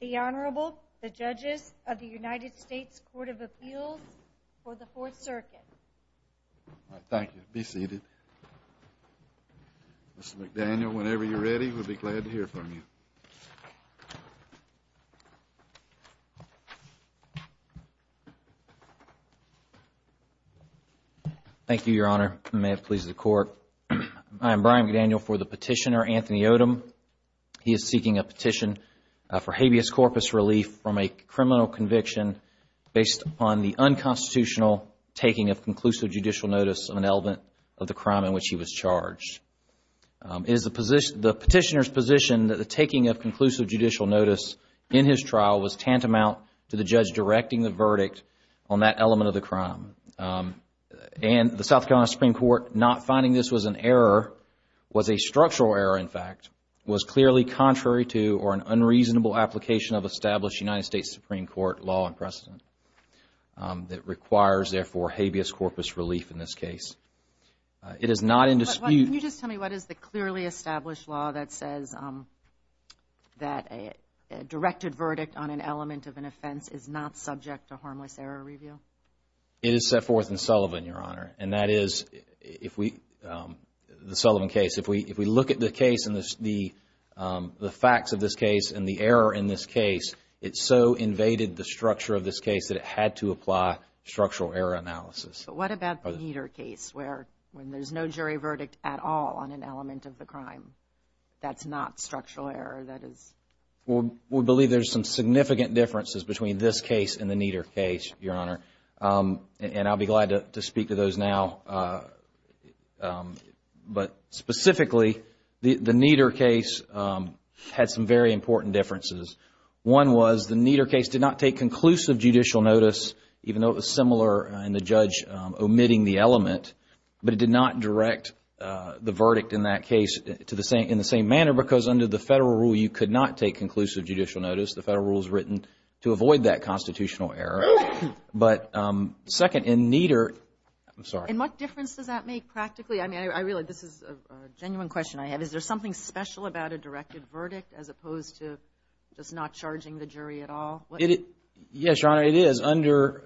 The Honorable, the Judges of the United States Court of Appeals for the Fourth Circuit. Thank you. Be seated. Mr. McDaniel, whenever you're ready, we'll be glad to hear from you. Thank you, Your Honor. May it please the Court. I am Brian McDaniel for the petitioner, Anthony Odom. He is seeking a petition for habeas corpus relief from a criminal conviction based upon the unconstitutional taking of conclusive judicial notice of an element of the crime in which he was charged. It is the petitioner's position that the taking of conclusive judicial notice in his trial was tantamount to the judge directing the verdict on that element of the crime. And the South Carolina Supreme Court not finding this was an error, was a structural error, in fact, was clearly contrary to or an unreasonable application of established United States Supreme Court law and precedent that requires, therefore, habeas corpus relief in this case. It is not in dispute. Can you just tell me what is the clearly established law that says that a directed verdict on an element of an offense is not subject to harmless error review? It is set forth in Sullivan, Your Honor, and that is if we, the Sullivan case, if we look at the case and the facts of this case and the error in this case, it so invaded the structure of this case that it had to apply structural error analysis. But what about the Nieder case where there is no jury verdict at all on an element of the crime? That is not structural error? Well, we believe there are some significant differences between this case and the Nieder case, Your Honor, and I will be glad to speak to those now. But specifically, the Nieder case had some very important differences. One was the Nieder case did not take conclusive judicial notice, even though it was similar in the judge omitting the element, but it did not direct the verdict in that case in the same manner because under the federal rule, you could not take conclusive judicial notice. The federal rule is written to avoid that constitutional error. But second, in Nieder – I'm sorry. And what difference does that make practically? I mean, I realize this is a genuine question I have. Is there something special about a directed verdict as opposed to just not charging the jury at all? Yes, Your Honor, it is under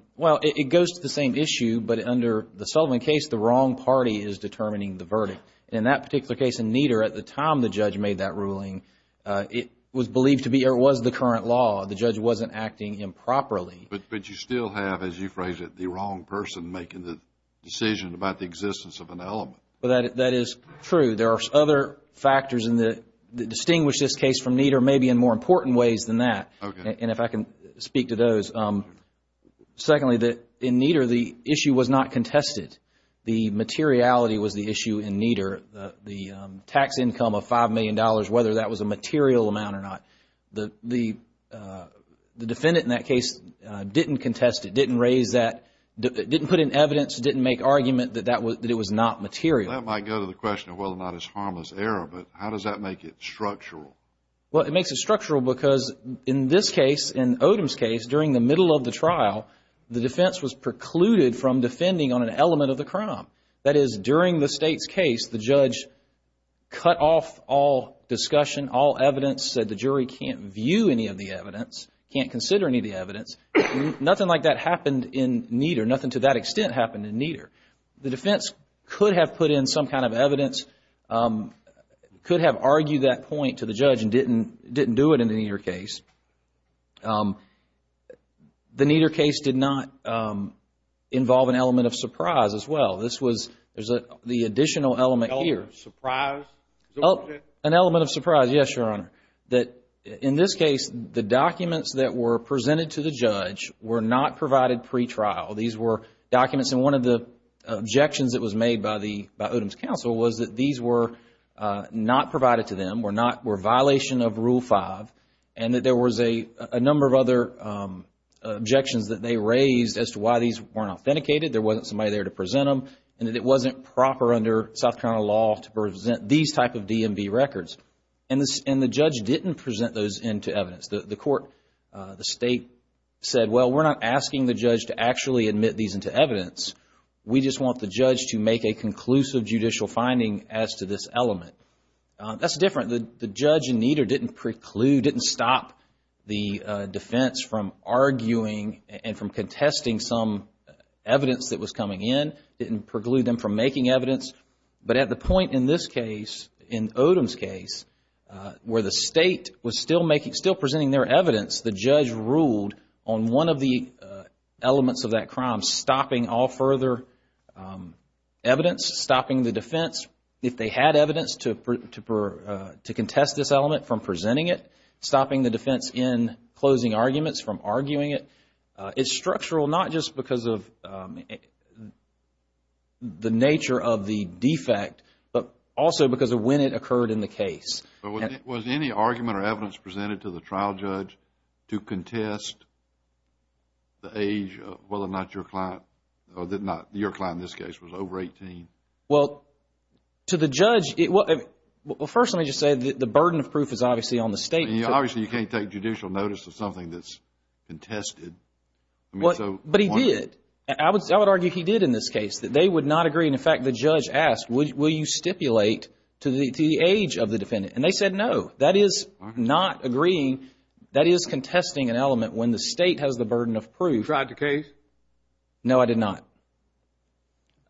– well, it goes to the same issue, but under the Sullivan case, the wrong party is determining the verdict. In that particular case in Nieder, at the time the judge made that ruling, it was believed to be or was the current law. The judge wasn't acting improperly. But you still have, as you phrase it, the wrong person making the decision about the existence of an element. That is true. There are other factors that distinguish this case from Nieder, maybe in more important ways than that. Okay. And if I can speak to those. Secondly, in Nieder, the issue was not contested. The materiality was the issue in Nieder. The tax income of $5 million, whether that was a material amount or not, the defendant in that case didn't contest it, didn't raise that, didn't put in evidence, didn't make argument that it was not material. That might go to the question of whether or not it's harmless error, but how does that make it structural? Well, it makes it structural because in this case, in Odom's case, during the middle of the trial, the defense was precluded from defending on an element of the crime. That is, during the state's case, the judge cut off all discussion, all evidence, said the jury can't view any of the evidence, can't consider any of the evidence. Nothing like that happened in Nieder. Nothing to that extent happened in Nieder. The defense could have put in some kind of evidence, could have argued that point to the judge and didn't do it in the Nieder case. The Nieder case did not involve an element of surprise as well. This was the additional element here. Surprise? An element of surprise, yes, Your Honor. In this case, the documents that were presented to the judge were not provided pre-trial. These were documents, and one of the objections that was made by Odom's counsel was that these were not provided to them, were a violation of Rule 5, and that there was a number of other objections that they raised as to why these weren't authenticated, there wasn't somebody there to present them, and that it wasn't proper under South Carolina law to present these type of DMV records. And the judge didn't present those into evidence. The court, the state said, well, we're not asking the judge to actually admit these into evidence. We just want the judge to make a conclusive judicial finding as to this element. That's different. The judge in Nieder didn't preclude, didn't stop the defense from arguing and from contesting some evidence that was coming in, didn't preclude them from making evidence. But at the point in this case, in Odom's case, where the state was still presenting their evidence, the judge ruled on one of the elements of that crime, stopping all further evidence, stopping the defense, if they had evidence, to contest this element from presenting it, stopping the defense in closing arguments from arguing it. It's structural not just because of the nature of the defect, but also because of when it occurred in the case. But was any argument or evidence presented to the trial judge to contest the age of whether or not your client, or your client in this case, was over 18? Well, to the judge, well, first let me just say the burden of proof is obviously on the state. Obviously, you can't take judicial notice of something that's contested. But he did. I would argue he did in this case. They would not agree. In fact, the judge asked, will you stipulate to the age of the defendant? And they said no. That is not agreeing. That is contesting an element when the state has the burden of proof. No, I did not.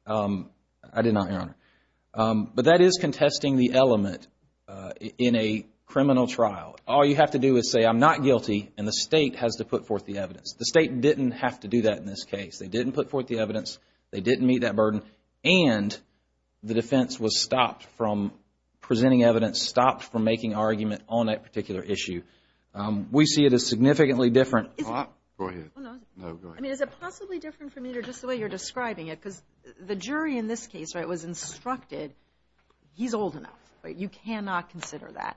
I did not, Your Honor. But that is contesting the element in a criminal trial. All you have to do is say, I'm not guilty, and the state has to put forth the evidence. The state didn't have to do that in this case. They didn't put forth the evidence. They didn't meet that burden. And the defense was stopped from presenting evidence, stopped from making argument on that particular issue. We see it as significantly different. Go ahead. No, go ahead. I mean, is it possibly different from neither just the way you're describing it? Because the jury in this case was instructed, he's old enough. You cannot consider that.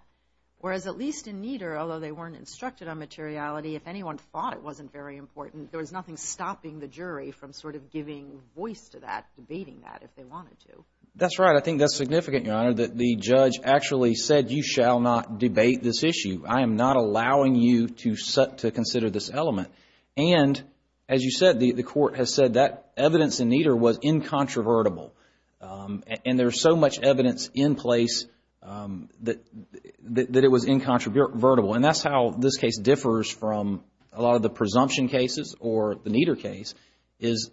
Whereas at least in neither, although they weren't instructed on materiality, if anyone thought it wasn't very important, there was nothing stopping the jury from sort of giving voice to that, debating that if they wanted to. That's right. I think that's significant, Your Honor, that the judge actually said, you shall not debate this issue. I am not allowing you to consider this element. And as you said, the court has said that evidence in neither was incontrovertible. And there's so much evidence in place that it was incontrovertible. And that's how this case differs from a lot of the presumption cases or the neither case, is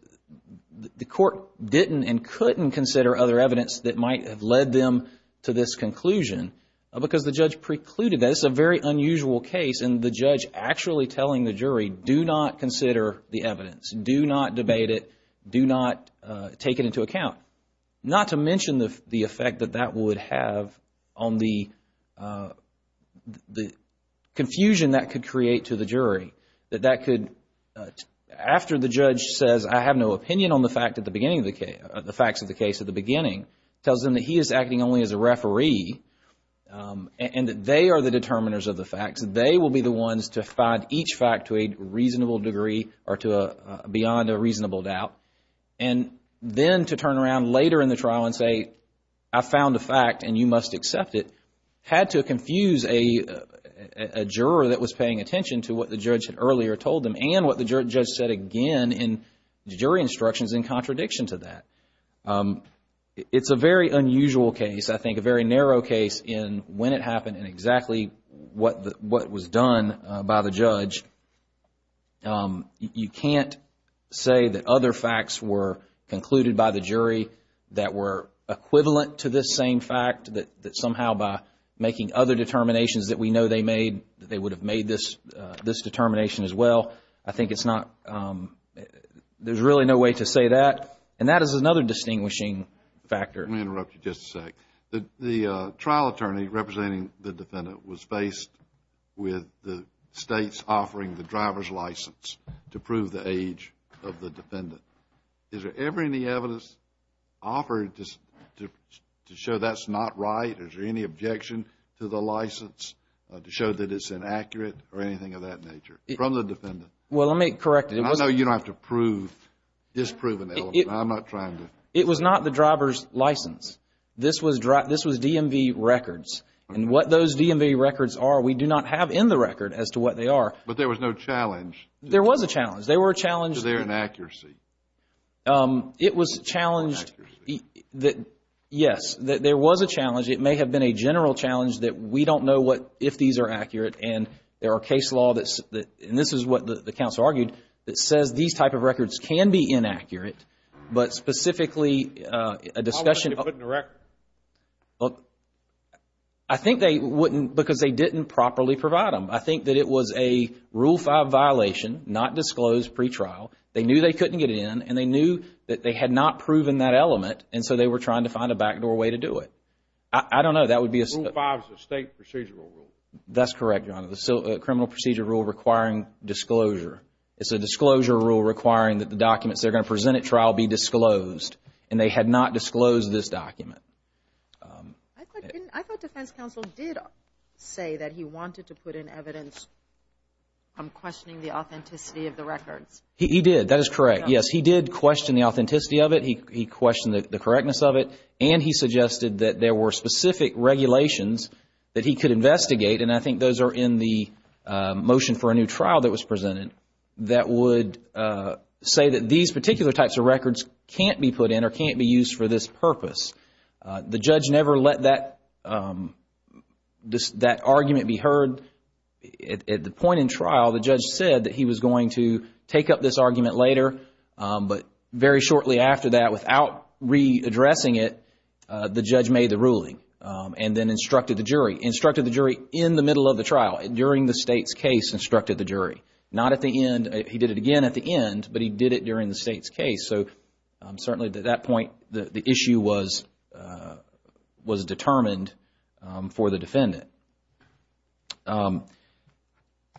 the court didn't and couldn't consider other evidence that might have led them to this conclusion because the judge precluded that. And that's a very unusual case. And the judge actually telling the jury, do not consider the evidence. Do not debate it. Do not take it into account. Not to mention the effect that that would have on the confusion that could create to the jury, that that could, after the judge says, I have no opinion on the facts of the case at the beginning, tells them that he is acting only as a referee and that they are the determiners of the facts. They will be the ones to find each fact to a reasonable degree or beyond a reasonable doubt. And then to turn around later in the trial and say, I found a fact and you must accept it, had to confuse a juror that was paying attention to what the judge had earlier told them and what the judge said again in jury instructions in contradiction to that. It's a very unusual case. I think a very narrow case in when it happened and exactly what was done by the judge. You can't say that other facts were concluded by the jury that were equivalent to this same fact, that somehow by making other determinations that we know they made, that they would have made this determination as well. I think it's not, there's really no way to say that. And that is another distinguishing factor. Let me interrupt you just a sec. The trial attorney representing the defendant was faced with the states offering the driver's license to prove the age of the defendant. Is there ever any evidence offered to show that's not right? Is there any objection to the license to show that it's inaccurate or anything of that nature from the defendant? Well, let me correct you. I know you don't have to prove this proven element. I'm not trying to. It was not the driver's license. This was DMV records. And what those DMV records are, we do not have in the record as to what they are. But there was no challenge. There was a challenge. There was a challenge. To their inaccuracy. It was challenged. To their inaccuracy. Yes. There was a challenge. It may have been a general challenge that we don't know what, if these are accurate. And there are case law that's, and this is what the counsel argued, that says these type of records can be inaccurate. But specifically a discussion. How would they put it in the record? I think they wouldn't because they didn't properly provide them. I think that it was a Rule 5 violation, not disclosed pre-trial. They knew they couldn't get it in. And they knew that they had not proven that element. And so they were trying to find a backdoor way to do it. I don't know. Rule 5 is a state procedural rule. That's correct, Your Honor. The criminal procedure rule requiring disclosure. It's a disclosure rule requiring that the documents they're going to present at trial be disclosed. And they had not disclosed this document. I thought defense counsel did say that he wanted to put in evidence from questioning the authenticity of the records. He did. That is correct. Yes, he did question the authenticity of it. He questioned the correctness of it. And he suggested that there were specific regulations that he could investigate. And I think those are in the motion for a new trial that was presented that would say that these particular types of records can't be put in or can't be used for this purpose. The judge never let that argument be heard. At the point in trial, the judge said that he was going to take up this argument later. But very shortly after that, without readdressing it, the judge made the ruling and then instructed the jury. Instructed the jury in the middle of the trial. During the state's case, instructed the jury. Not at the end. He did it again at the end, but he did it during the state's case.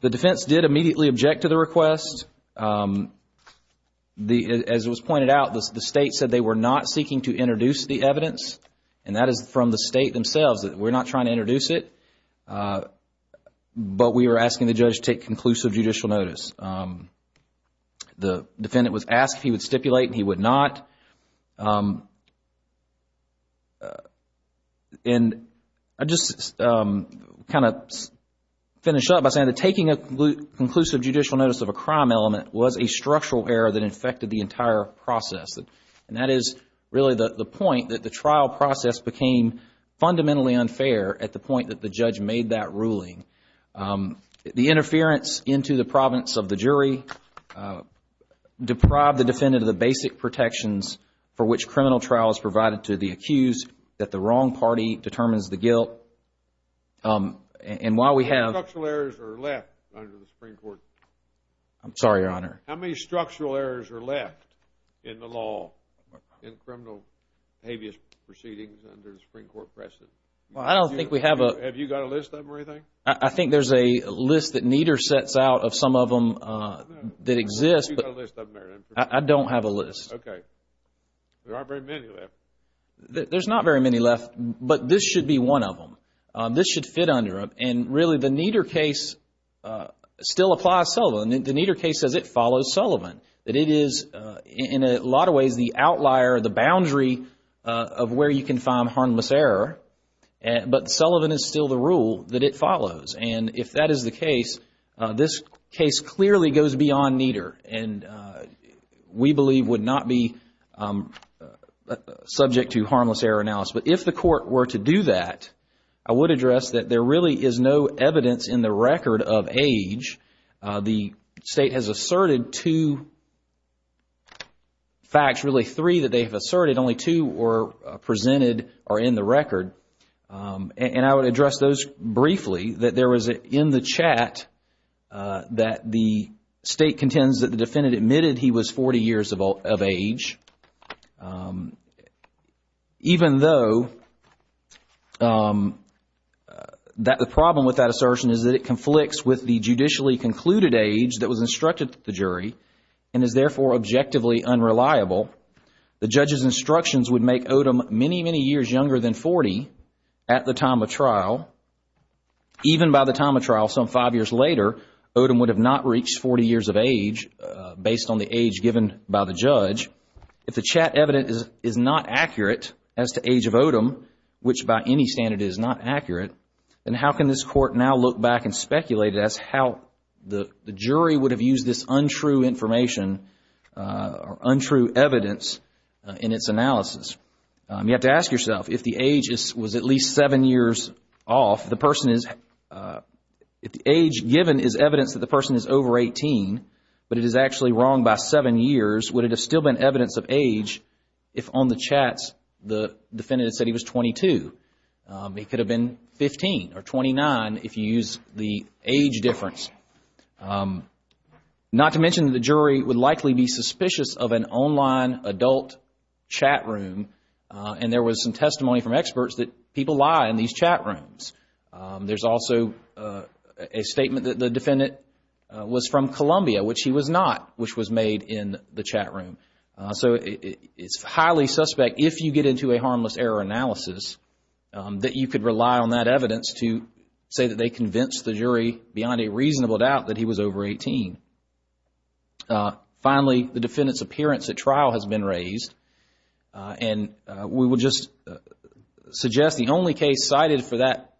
The defense did immediately object to the request. As it was pointed out, the state said they were not seeking to introduce the evidence. And that is from the state themselves. We're not trying to introduce it. But we were asking the judge to take conclusive judicial notice. The defendant was asked if he would stipulate, and he would not. And I just kind of finish up by saying that taking a conclusive judicial notice of a crime element was a structural error that affected the entire process. And that is really the point that the trial process became fundamentally unfair at the point that the judge made that ruling. The interference into the province of the jury deprived the defendant of the basic protections for which criminal trial is provided to the accused, that the wrong party determines the guilt. And while we have How many structural errors are left under the Supreme Court? I'm sorry, Your Honor. How many structural errors are left in the law in criminal habeas proceedings under the Supreme Court precedent? Well, I don't think we have a Have you got a list of them or anything? I think there's a list that Nieder sets out of some of them that exist, but Have you got a list of them there? I don't have a list. Okay. There aren't very many left. There's not very many left, but this should be one of them. This should fit under them. And really, the Nieder case still applies Sullivan. The Nieder case says it follows Sullivan, that it is in a lot of ways the outlier, the boundary of where you can find harmless error, but Sullivan is still the rule that it follows. And if that is the case, this case clearly goes beyond Nieder. And we believe would not be subject to harmless error analysis. But if the court were to do that, I would address that there really is no evidence in the record of age. The state has asserted two facts, really three that they have asserted. Only two were presented or in the record. And I would address those briefly. That there was in the chat that the state contends that the defendant admitted he was 40 years of age. Even though the problem with that assertion is that it conflicts with the judicially concluded age that was instructed to the jury and is therefore objectively unreliable. The judge's instructions would make Odom many, many years younger than 40 at the time of trial. Even by the time of trial, some five years later, Odom would have not reached 40 years of age based on the age given by the judge. If the chat evidence is not accurate as to age of Odom, which by any standard is not accurate, then how can this court now look back and speculate as to how the jury would have used this untrue information or untrue evidence in its analysis? You have to ask yourself, if the age was at least seven years off, if the age given is evidence that the person is over 18, but it is actually wrong by seven years, would it have still been evidence of age if on the chats the defendant had said he was 22? He could have been 15 or 29 if you use the age difference. Not to mention that the jury would likely be suspicious of an online adult chat room and there was some testimony from experts that people lie in these chat rooms. There's also a statement that the defendant was from Columbia, which he was not, which was made in the chat room. So it's highly suspect if you get into a harmless error analysis that you could rely on that evidence to say that they convinced the jury beyond a reasonable doubt that he was over 18. Finally, the defendant's appearance at trial has been raised and we would just suggest the only case cited for that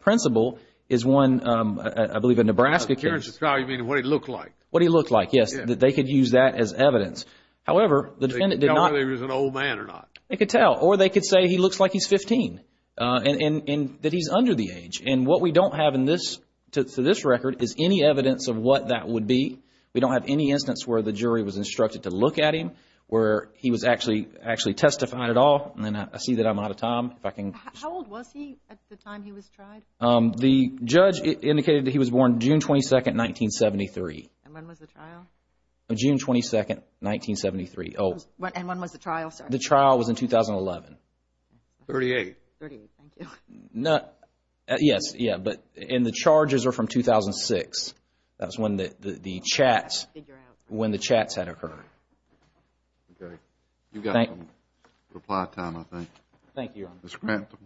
principle is one, I believe, a Nebraska case. Appearance at trial, you mean what he looked like? What he looked like, yes. They could use that as evidence. However, the defendant did not... They could tell whether he was an old man or not. They could tell. Or they could say he looks like he's 15 and that he's under the age. And what we don't have in this, to this record, is any evidence of what that would be. We don't have any instance where the jury was instructed to look at him, where he was actually testified at all. And I see that I'm out of time, if I can... How old was he at the time he was tried? The judge indicated that he was born June 22, 1973. And when was the trial? June 22, 1973. And when was the trial, sir? The trial was in 2011. Thirty-eight. Thirty-eight, thank you. Yes, but the charges are from 2006. That's when the chats had occurred. Okay. You've got some reply time, I think. Thank you, Your Honor. Mr. Crantham.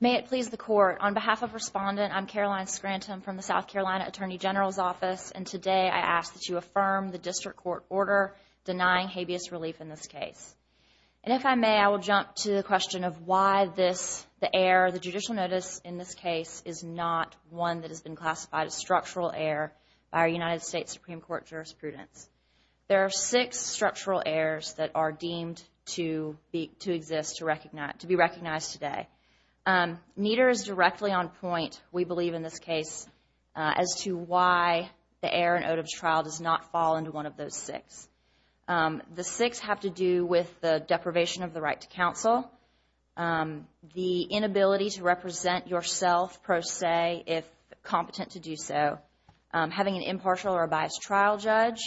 May it please the Court. On behalf of Respondent, I'm Caroline Crantham from the South Carolina Attorney General's Office, and today I ask that you affirm the district court order denying habeas relief in this case. And if I may, I will jump to the question of why this, the heir, the judicial notice in this case, is not one that has been classified as structural heir by our United States Supreme Court jurisprudence. There are six structural heirs that are deemed to exist, to be recognized today. Nieder is directly on point, we believe in this case, as to why the heir in Odub's trial does not fall into one of those six. The six have to do with the deprivation of the right to counsel, the inability to represent yourself, if competent to do so, having an impartial or a biased trial judge,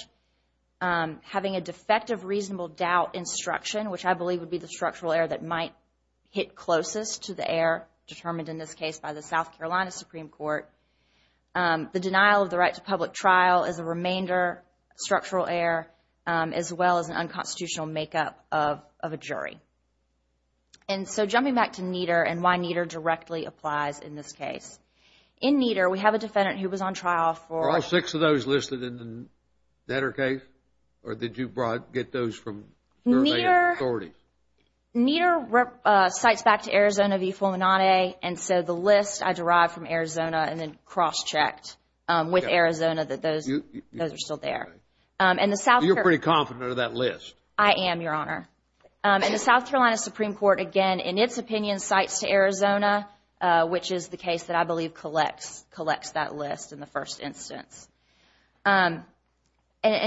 having a defective reasonable doubt instruction, which I believe would be the structural heir that might hit closest to the heir, determined in this case by the South Carolina Supreme Court, the denial of the right to public trial as a remainder, structural heir, as well as an unconstitutional makeup of a jury. And so jumping back to Nieder and why Nieder directly applies in this case. In Nieder, we have a defendant who was on trial for... Are all six of those listed in the letter case, or did you get those from the remaining authorities? Nieder cites back to Arizona v. Fulminante, and so the list I derived from Arizona and then cross-checked with Arizona that those are still there. And the South Carolina... You're pretty confident of that list. I am, Your Honor. And the South Carolina Supreme Court, again, in its opinion, cites to Arizona, which is the case that I believe collects that list in the first instance. And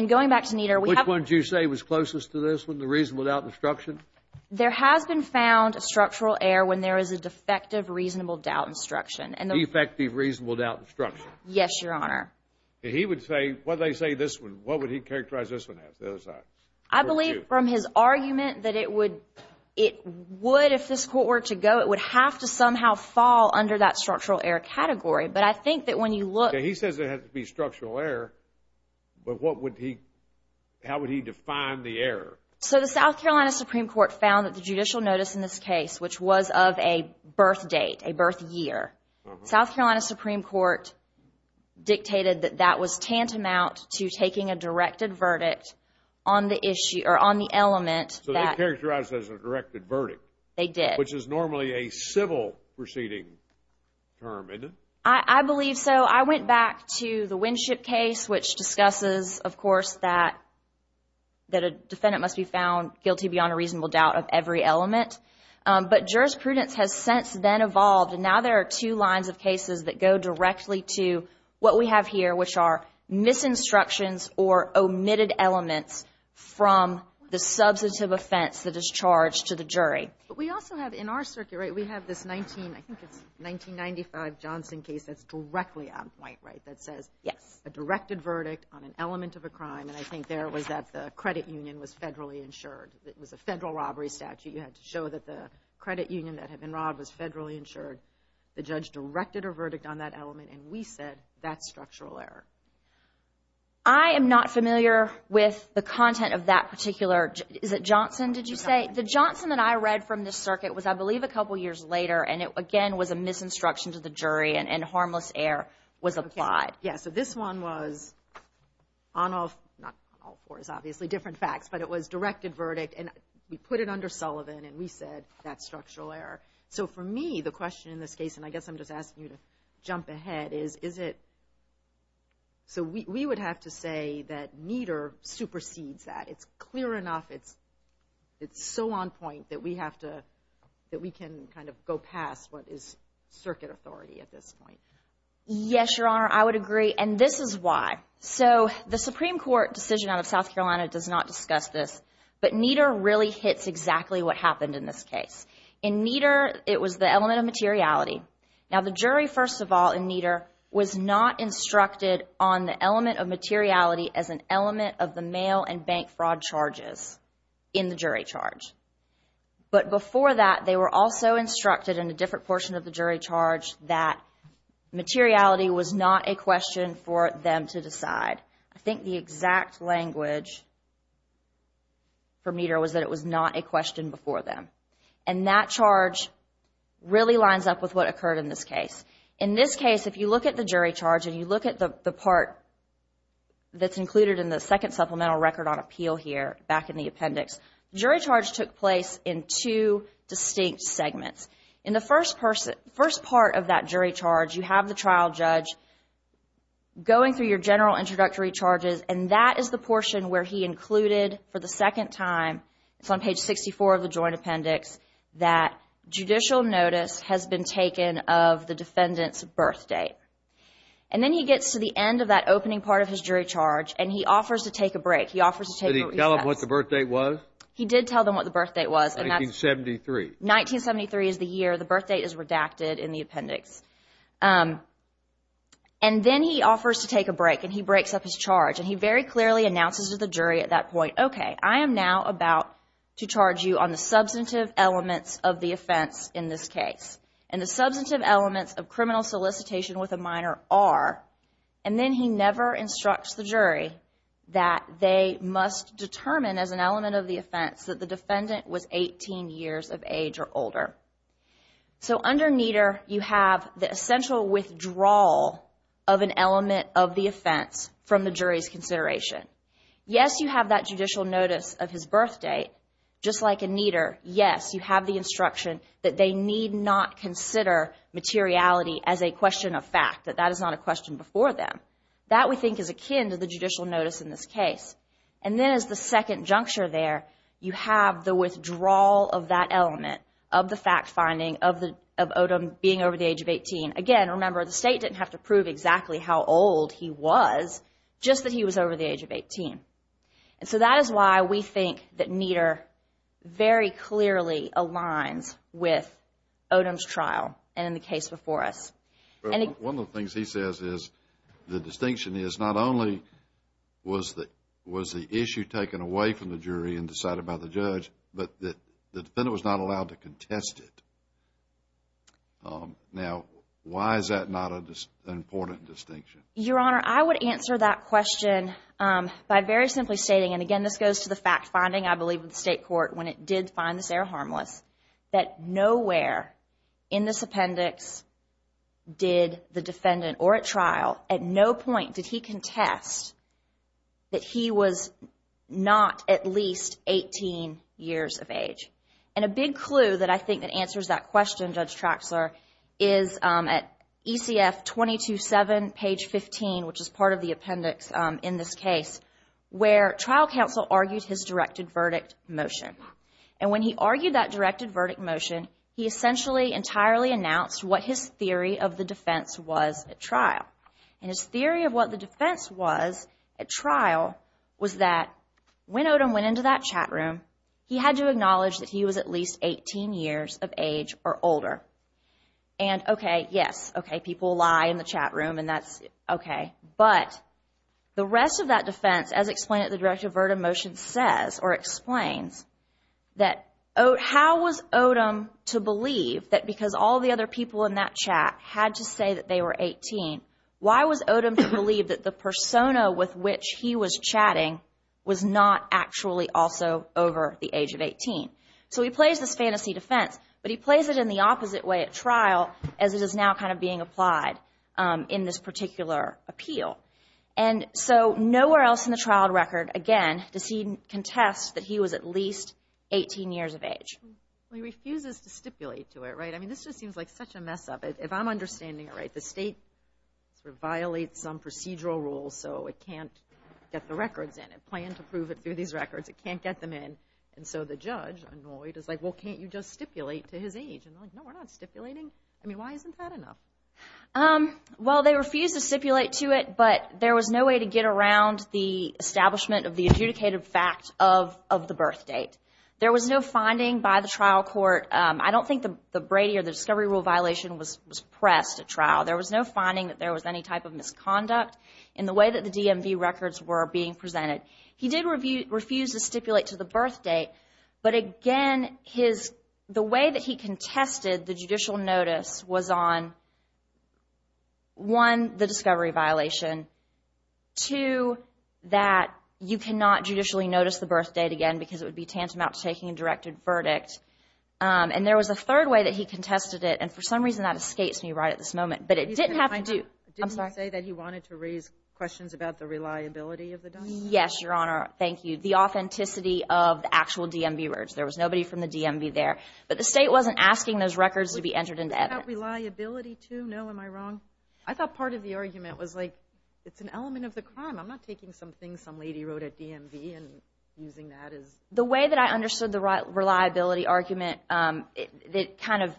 going back to Nieder, we have... Which one did you say was closest to this one, the reasonable doubt instruction? There has been found a structural heir when there is a defective reasonable doubt instruction. Defective reasonable doubt instruction. Yes, Your Honor. He would say, when they say this one, what would he characterize this one as, the other side? I believe from his argument that it would, if this court were to go, it would have to somehow fall under that structural heir category. But I think that when you look... He says it has to be structural heir, but what would he... How would he define the heir? So the South Carolina Supreme Court found that the judicial notice in this case, which was of a birth date, a birth year, South Carolina Supreme Court dictated that that was tantamount to taking a directed verdict on the element that... So they characterized it as a directed verdict. They did. Which is normally a civil proceeding term, isn't it? I believe so. I went back to the Winship case, which discusses, of course, that a defendant must be found guilty beyond a reasonable doubt of every element. But jurisprudence has since then evolved, and now there are two lines of cases that go directly to what we have here, which are misinstructions or omitted elements from the substantive offense that is charged to the jury. But we also have, in our circuit, right, we have this 19, I think it's 1995 Johnson case that's directly on white right that says... Yes. A directed verdict on an element of a crime, and I think there it was that the credit union was federally insured. It was a federal robbery statute. You had to show that the credit union that had been robbed was federally insured. The judge directed a verdict on that element, and we said that's structural error. I am not familiar with the content of that particular... Is it Johnson, did you say? The Johnson that I read from this circuit was, I believe, a couple years later, and it, again, was a misinstruction to the jury, and harmless error was applied. Yes, so this one was on all fours, obviously, different facts, but it was directed verdict, and we put it under Sullivan, and we said that's structural error. So for me, the question in this case, and I guess I'm just asking you to jump ahead, is is it... So we would have to say that Nieder supersedes that. It's clear enough. It's so on point that we have to, that we can kind of go past what is circuit authority at this point. Yes, Your Honor, I would agree, and this is why. So the Supreme Court decision out of South Carolina does not discuss this, but Nieder really hits exactly what happened in this case. In Nieder, it was the element of materiality. Now, the jury, first of all, in Nieder, was not instructed on the element of materiality as an element of the mail and bank fraud charges in the jury charge. But before that, they were also instructed in a different portion of the jury charge that materiality was not a question for them to decide. I think the exact language for Nieder was that it was not a question before them, and that charge really lines up with what occurred in this case. In this case, if you look at the jury charge and you look at the part that's included in the second supplemental record on appeal here back in the appendix, jury charge took place in two distinct segments. In the first part of that jury charge, you have the trial judge going through your general introductory charges, and that is the portion where he included for the second time, it's on page 64 of the joint appendix, that judicial notice has been taken of the defendant's birth date. And then he gets to the end of that opening part of his jury charge, and he offers to take a break. He offers to take a recess. Did he tell them what the birth date was? He did tell them what the birth date was. 1973. 1973 is the year the birth date is redacted in the appendix. And then he offers to take a break, and he breaks up his charge, and he very clearly announces to the jury at that point, okay, I am now about to charge you on the substantive elements of the offense in this case. And the substantive elements of criminal solicitation with a minor are, and then he never instructs the jury that they must determine as an element of the offense that the defendant was 18 years of age or older. So under Nieder, you have the essential withdrawal of an element of the offense from the jury's consideration. Yes, you have that judicial notice of his birth date. Just like in Nieder, yes, you have the instruction that they need not consider materiality as a question of fact, that that is not a question before them. That, we think, is akin to the judicial notice in this case. And then as the second juncture there, you have the withdrawal of that element, of the fact-finding of Odom being over the age of 18. Again, remember, the state didn't have to prove exactly how old he was, just that he was over the age of 18. And so that is why we think that Nieder very clearly aligns with Odom's trial and the case before us. One of the things he says is, the distinction is, not only was the issue taken away from the jury and decided by the judge, but the defendant was not allowed to contest it. Now, why is that not an important distinction? Your Honor, I would answer that question by very simply stating, and again this goes to the fact-finding, I believe, of the state court when it did find this error harmless, that nowhere in this appendix did the defendant, or at trial, at no point did he contest that he was not at least 18 years of age. And a big clue that I think that answers that question, Judge Traxler, is at ECF 22-7, page 15, which is part of the appendix in this case, where trial counsel argued his directed verdict motion. And when he argued that directed verdict motion, he essentially entirely announced what his theory of the defense was at trial. And his theory of what the defense was at trial was that when Odom went into that chat room, he had to acknowledge that he was at least 18 years of age or older. And okay, yes, okay, people lie in the chat room and that's okay. But the rest of that defense, as explained at the directed verdict motion, says or explains that how was Odom to believe that because all the other people in that chat had to say that they were 18, why was Odom to believe that the persona with which he was chatting was not actually also over the age of 18? So he plays this fantasy defense, but he plays it in the opposite way at trial as it is now kind of being applied in this particular appeal. And so nowhere else in the trial record, again, does he contest that he was at least 18 years of age. He refuses to stipulate to it, right? I mean, this just seems like such a mess up. If I'm understanding it right, the state sort of violates some procedural rules, so it can't get the records in and plan to prove it through these records. It can't get them in. And so the judge, annoyed, is like, well, can't you just stipulate to his age? And they're like, no, we're not stipulating. I mean, why isn't that enough? Well, they refused to stipulate to it, but there was no way to get around the establishment of the adjudicated fact of the birth date. There was no finding by the trial court. I don't think the Brady or the discovery rule violation was pressed at trial. There was no finding that there was any type of misconduct in the way that the DMV records were being presented. He did refuse to stipulate to the birth date, but, again, the way that he contested the judicial notice was on, one, the discovery violation, two, that you cannot judicially notice the birth date again because it would be tantamount to taking a directed verdict. And there was a third way that he contested it, and for some reason that escapes me right at this moment. But it didn't have to do— He didn't say that he wanted to raise questions about the reliability of the document? Yes, Your Honor. Thank you. The authenticity of the actual DMV records. There was nobody from the DMV there. But the state wasn't asking those records to be entered into evidence. About reliability, too? No, am I wrong? I thought part of the argument was, like, it's an element of the crime. I'm not taking something some lady wrote at DMV and using that as— The way that I understood the reliability argument, it kind of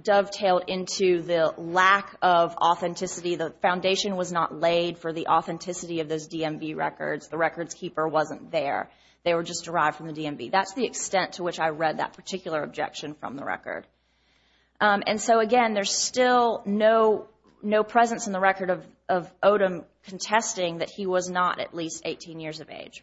dovetailed into the lack of authenticity. The foundation was not laid for the authenticity of those DMV records. The records keeper wasn't there. They were just derived from the DMV. That's the extent to which I read that particular objection from the record. And so, again, there's still no presence in the record of Odom contesting that he was not at least 18 years of age.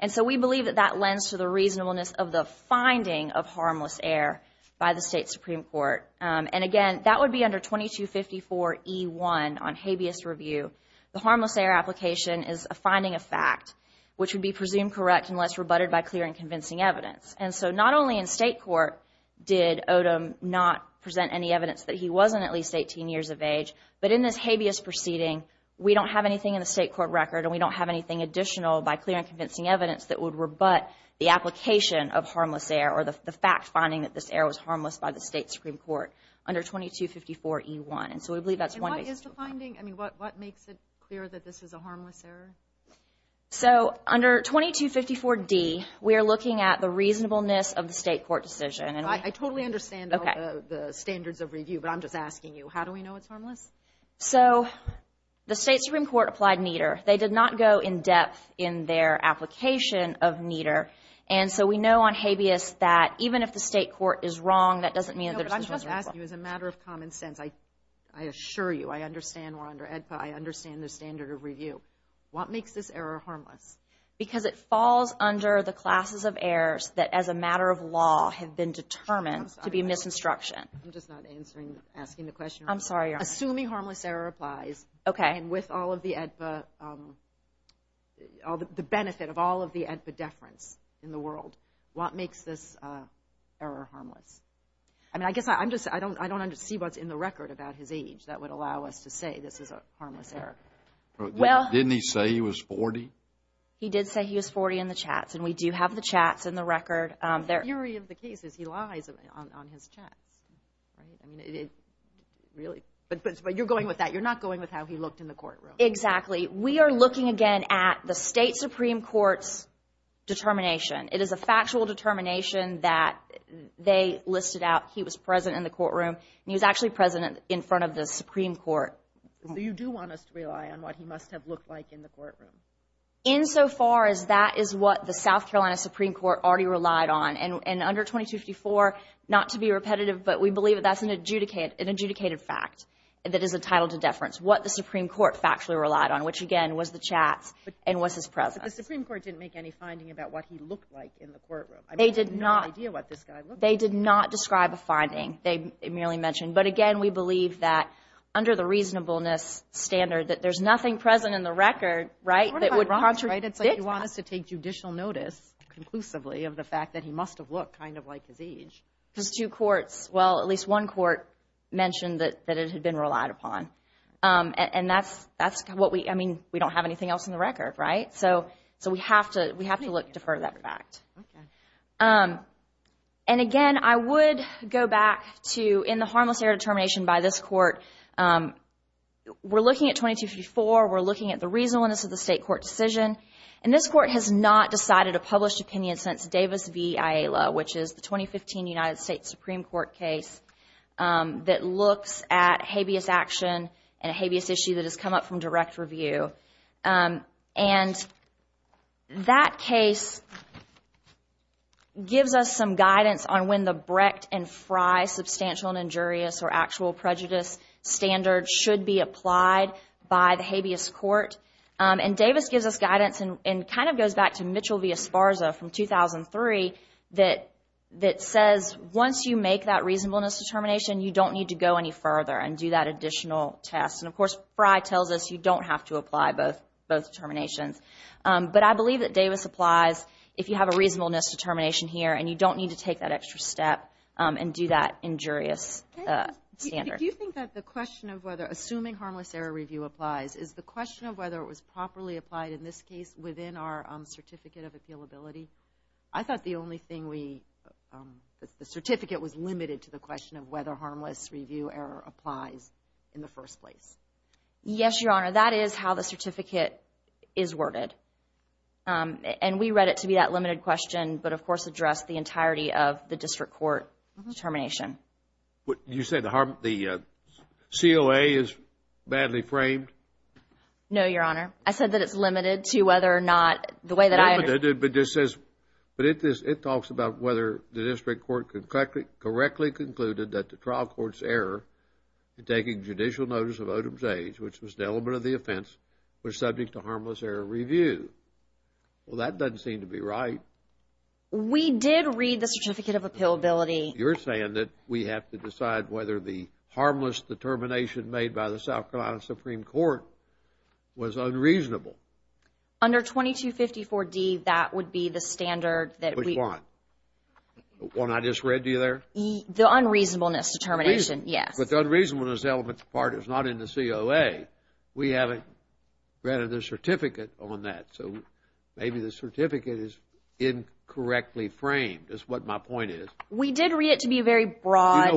And so we believe that that lends to the reasonableness of the finding of harmless air by the state Supreme Court. And, again, that would be under 2254E1 on habeas review. The harmless air application is a finding of fact, which would be presumed correct unless rebutted by clear and convincing evidence. And so not only in state court did Odom not present any evidence that he wasn't at least 18 years of age, but in this habeas proceeding, we don't have anything in the state court record and we don't have anything additional by clear and convincing evidence that would rebut the application of harmless air or the fact finding that this air was harmless by the state Supreme Court under 2254E1. And so we believe that's one reason. And what is the finding? I mean, what makes it clear that this is a harmless air? So under 2254D, we are looking at the reasonableness of the state court decision. I totally understand the standards of review, but I'm just asking you, how do we know it's harmless? So the state Supreme Court applied NEDER. They did not go in depth in their application of NEDER. And so we know on habeas that even if the state court is wrong, that doesn't mean that there's a Supreme Court. No, but I'm just asking you as a matter of common sense. I assure you I understand we're under AEDPA. I understand the standard of review. What makes this air harmless? Because it falls under the classes of airs that as a matter of law have been determined to be a misconstruction. I'm just not answering, asking the question. I'm sorry, Your Honor. Assuming harmless air applies and with all of the AEDPA, the benefit of all of the AEDPA deference in the world, what makes this air harmless? I mean, I guess I don't see what's in the record about his age that would allow us to say this is a harmless air. Didn't he say he was 40? He did say he was 40 in the chats, and we do have the chats in the record. The theory of the case is he lies on his chats, right? I mean, really. But you're going with that. You're not going with how he looked in the courtroom. Exactly. We are looking again at the State Supreme Court's determination. It is a factual determination that they listed out. He was present in the courtroom, and he was actually present in front of the Supreme Court. So you do want us to rely on what he must have looked like in the courtroom? Insofar as that is what the South Carolina Supreme Court already relied on, and under 2254, not to be repetitive, but we believe that that's an adjudicated fact that is entitled to deference, what the Supreme Court factually relied on, which, again, was the chats and was his presence. But the Supreme Court didn't make any finding about what he looked like in the courtroom. I mean, I have no idea what this guy looked like. They did not describe a finding. They merely mentioned. But, again, we believe that under the reasonableness standard, that there's nothing present in the record, right, that would contradict that. It's like you want us to take judicial notice conclusively of the fact that he must have looked kind of like his age. Because two courts, well, at least one court mentioned that it had been relied upon. And that's what we, I mean, we don't have anything else in the record, right? So we have to defer to that fact. Okay. And, again, I would go back to, in the harmless error determination by this court, we're looking at 2254. We're looking at the reasonableness of the state court decision. And this court has not decided a published opinion since Davis v. Ayala, which is the 2015 United States Supreme Court case that looks at habeas action and a habeas issue that has come up from direct review. And that case gives us some guidance on when the Brecht and Frey substantial injurious or actual prejudice standard should be applied by the habeas court. And Davis gives us guidance and kind of goes back to Mitchell v. Esparza from 2003 that says once you make that reasonableness determination, you don't need to go any further and do that additional test. And, of course, Frey tells us you don't have to apply both determinations. But I believe that Davis applies if you have a reasonableness determination here and you don't need to take that extra step and do that injurious standard. Do you think that the question of whether assuming harmless error review applies is the question of whether it was properly applied in this case within our certificate of appealability? I thought the only thing we—the certificate was limited to the question of whether harmless review error applies in the first place. Yes, Your Honor. That is how the certificate is worded. And we read it to be that limited question, but, of course, addressed the entirety of the district court determination. You said the COA is badly framed? No, Your Honor. I said that it's limited to whether or not the way that I— It's limited but just says—but it talks about whether the district court correctly concluded that the trial court's error in taking judicial notice of Odom's age, which was the element of the offense, was subject to harmless error review. Well, that doesn't seem to be right. We did read the certificate of appealability. You're saying that we have to decide whether the harmless determination made by the South Carolina Supreme Court was unreasonable. Under 2254D, that would be the standard that we— Which one? The one I just read to you there? The unreasonableness determination, yes. But the unreasonableness element part is not in the COA. We haven't read the certificate on that. So maybe the certificate is incorrectly framed is what my point is. We did read it to be a very broad—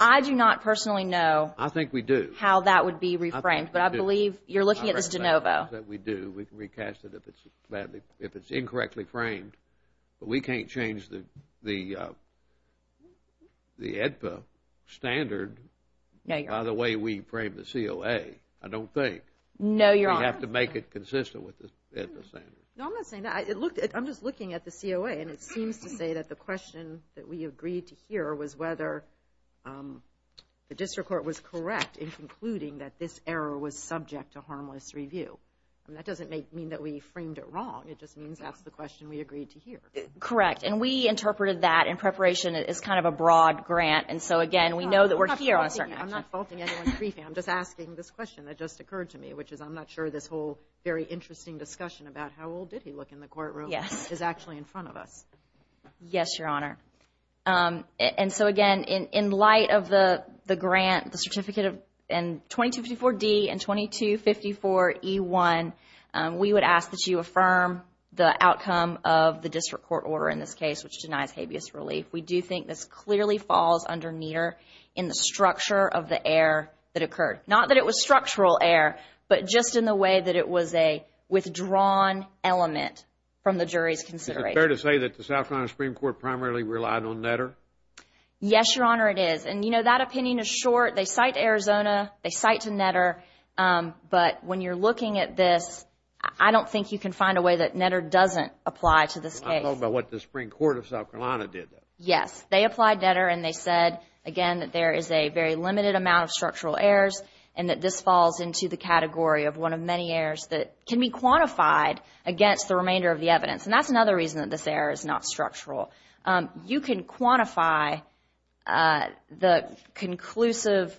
I do not personally know— I think we do. —how that would be reframed, but I believe you're looking at this de novo. I recognize that we do. We can recast it if it's incorrectly framed. But we can't change the AEDPA standard by the way we frame the COA, I don't think. No, Your Honor. We have to make it consistent with the AEDPA standard. No, I'm not saying that. I'm just looking at the COA, and it seems to say that the question that we agreed to hear was whether the district court was correct in concluding that this error was subject to harmless review. That doesn't mean that we framed it wrong. It just means that's the question we agreed to hear. Correct. And we interpreted that in preparation as kind of a broad grant, and so, again, we know that we're here on a certain action. I'm not faulting anyone's briefing. I'm just asking this question that just occurred to me, which is I'm not sure this whole very interesting discussion about how old did he look in the courtroom is actually in front of us. Yes, Your Honor. And so, again, in light of the grant, the certificate in 2254D and 2254E1, we would ask that you affirm the outcome of the district court order in this case, which denies habeas relief. We do think this clearly falls underneath in the structure of the error that occurred. Not that it was structural error, but just in the way that it was a withdrawn element from the jury's consideration. Is it fair to say that the South Carolina Supreme Court primarily relied on Netter? Yes, Your Honor, it is. And, you know, that opinion is short. They cite Arizona. They cite to Netter. But when you're looking at this, I don't think you can find a way that Netter doesn't apply to this case. I'm talking about what the Supreme Court of South Carolina did. Yes. They applied Netter, and they said, again, that there is a very limited amount of structural errors and that this falls into the category of one of many errors that can be quantified against the remainder of the evidence. And that's another reason that this error is not structural. You can quantify the conclusive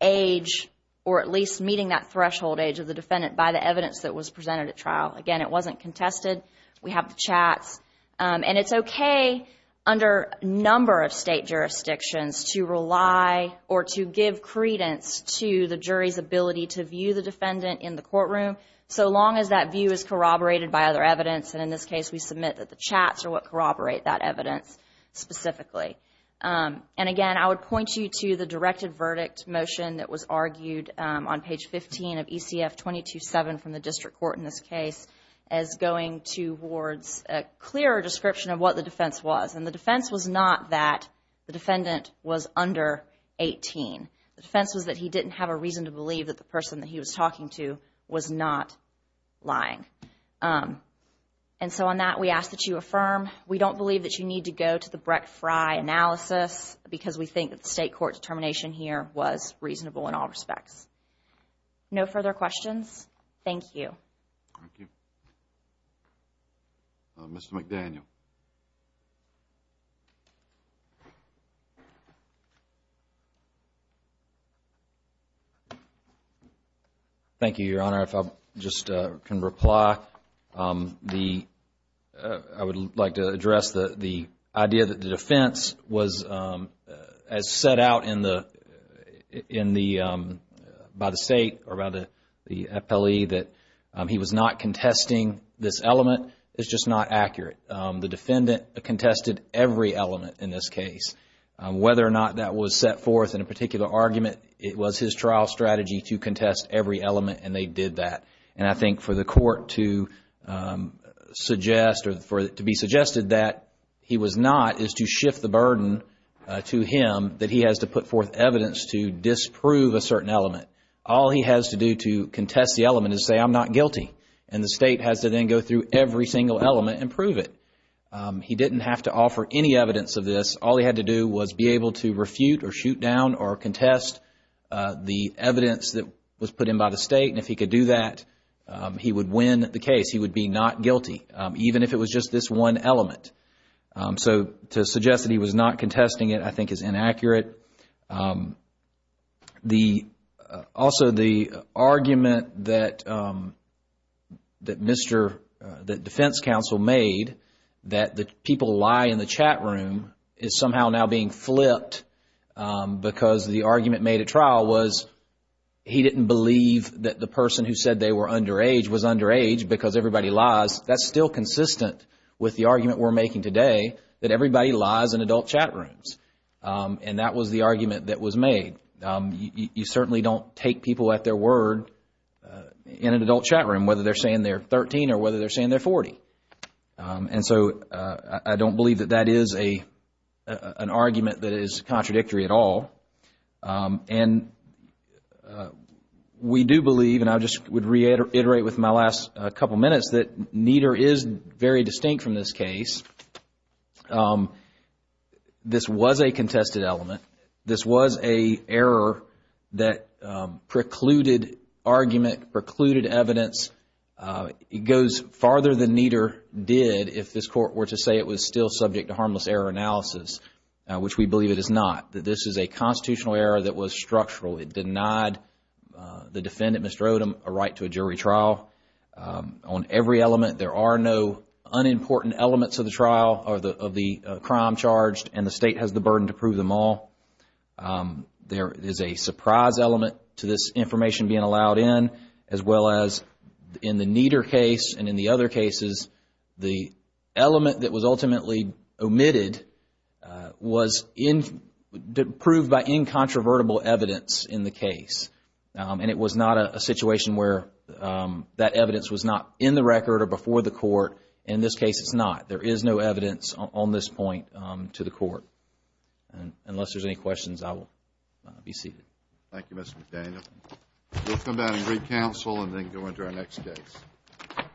age, or at least meeting that threshold age, of the defendant by the evidence that was presented at trial. Again, it wasn't contested. We have the chats. And it's okay under a number of state jurisdictions to rely or to give credence to the jury's ability to view the defendant in the courtroom, so long as that view is corroborated by other evidence. And in this case, we submit that the chats are what corroborate that evidence specifically. And, again, I would point you to the directed verdict motion that was argued on page 15 of ECF 22-7 from the district court in this case as going towards a clearer description of what the defense was. And the defense was not that the defendant was under 18. The defense was that he didn't have a reason to believe that the person that he was talking to was not lying. And so on that, we ask that you affirm. We don't believe that you need to go to the Brecht-Frey analysis because we think that the state court determination here was reasonable in all respects. No further questions? Thank you. Thank you. Mr. McDaniel. Thank you, Your Honor. If I just can reply, I would like to address the idea that the defense was as set out by the state, or rather the FLE, that he was not contesting this element. It's just not accurate. The defendant contested every element in this case. Whether or not that was set forth in a particular argument, it was his trial strategy to contest every element, and they did that. And I think for the court to suggest or to be suggested that he was not is to shift the burden to him that he has to put forth evidence to disprove a certain element. All he has to do to contest the element is say, I'm not guilty. And the state has to then go through every single element and prove it. He didn't have to offer any evidence of this. All he had to do was be able to refute or shoot down or contest the evidence that was put in by the state. And if he could do that, he would win the case. He would be not guilty, even if it was just this one element. So to suggest that he was not contesting it, I think, is inaccurate. Also, the argument that defense counsel made that the people who lie in the chat room is somehow now being flipped because the argument made at trial was he didn't believe that the person who said they were underage was underage because everybody lies. That's still consistent with the argument we're making today that everybody lies in adult chat rooms. And that was the argument that was made. You certainly don't take people at their word in an adult chat room, whether they're saying they're 13 or whether they're saying they're 40. And so I don't believe that that is an argument that is contradictory at all. And we do believe, and I just would reiterate with my last couple minutes, that neither is very distinct from this case. This was a contested element. This was an error that precluded argument, precluded evidence. It goes farther than neither did if this court were to say it was still subject to harmless error analysis, which we believe it is not. This is a constitutional error that was structural. It denied the defendant, Mr. Odom, a right to a jury trial. On every element, there are no unimportant elements of the trial or of the crime charged, and the state has the burden to prove them all. There is a surprise element to this information being allowed in, as well as in the Nieder case and in the other cases, the element that was ultimately omitted was proved by incontrovertible evidence in the case. And it was not a situation where that evidence was not in the record or before the court. In this case, it's not. There is no evidence on this point to the court. Unless there's any questions, I will be seated. Thank you, Mr. McDaniel. We'll come back and re-counsel and then go into our next case.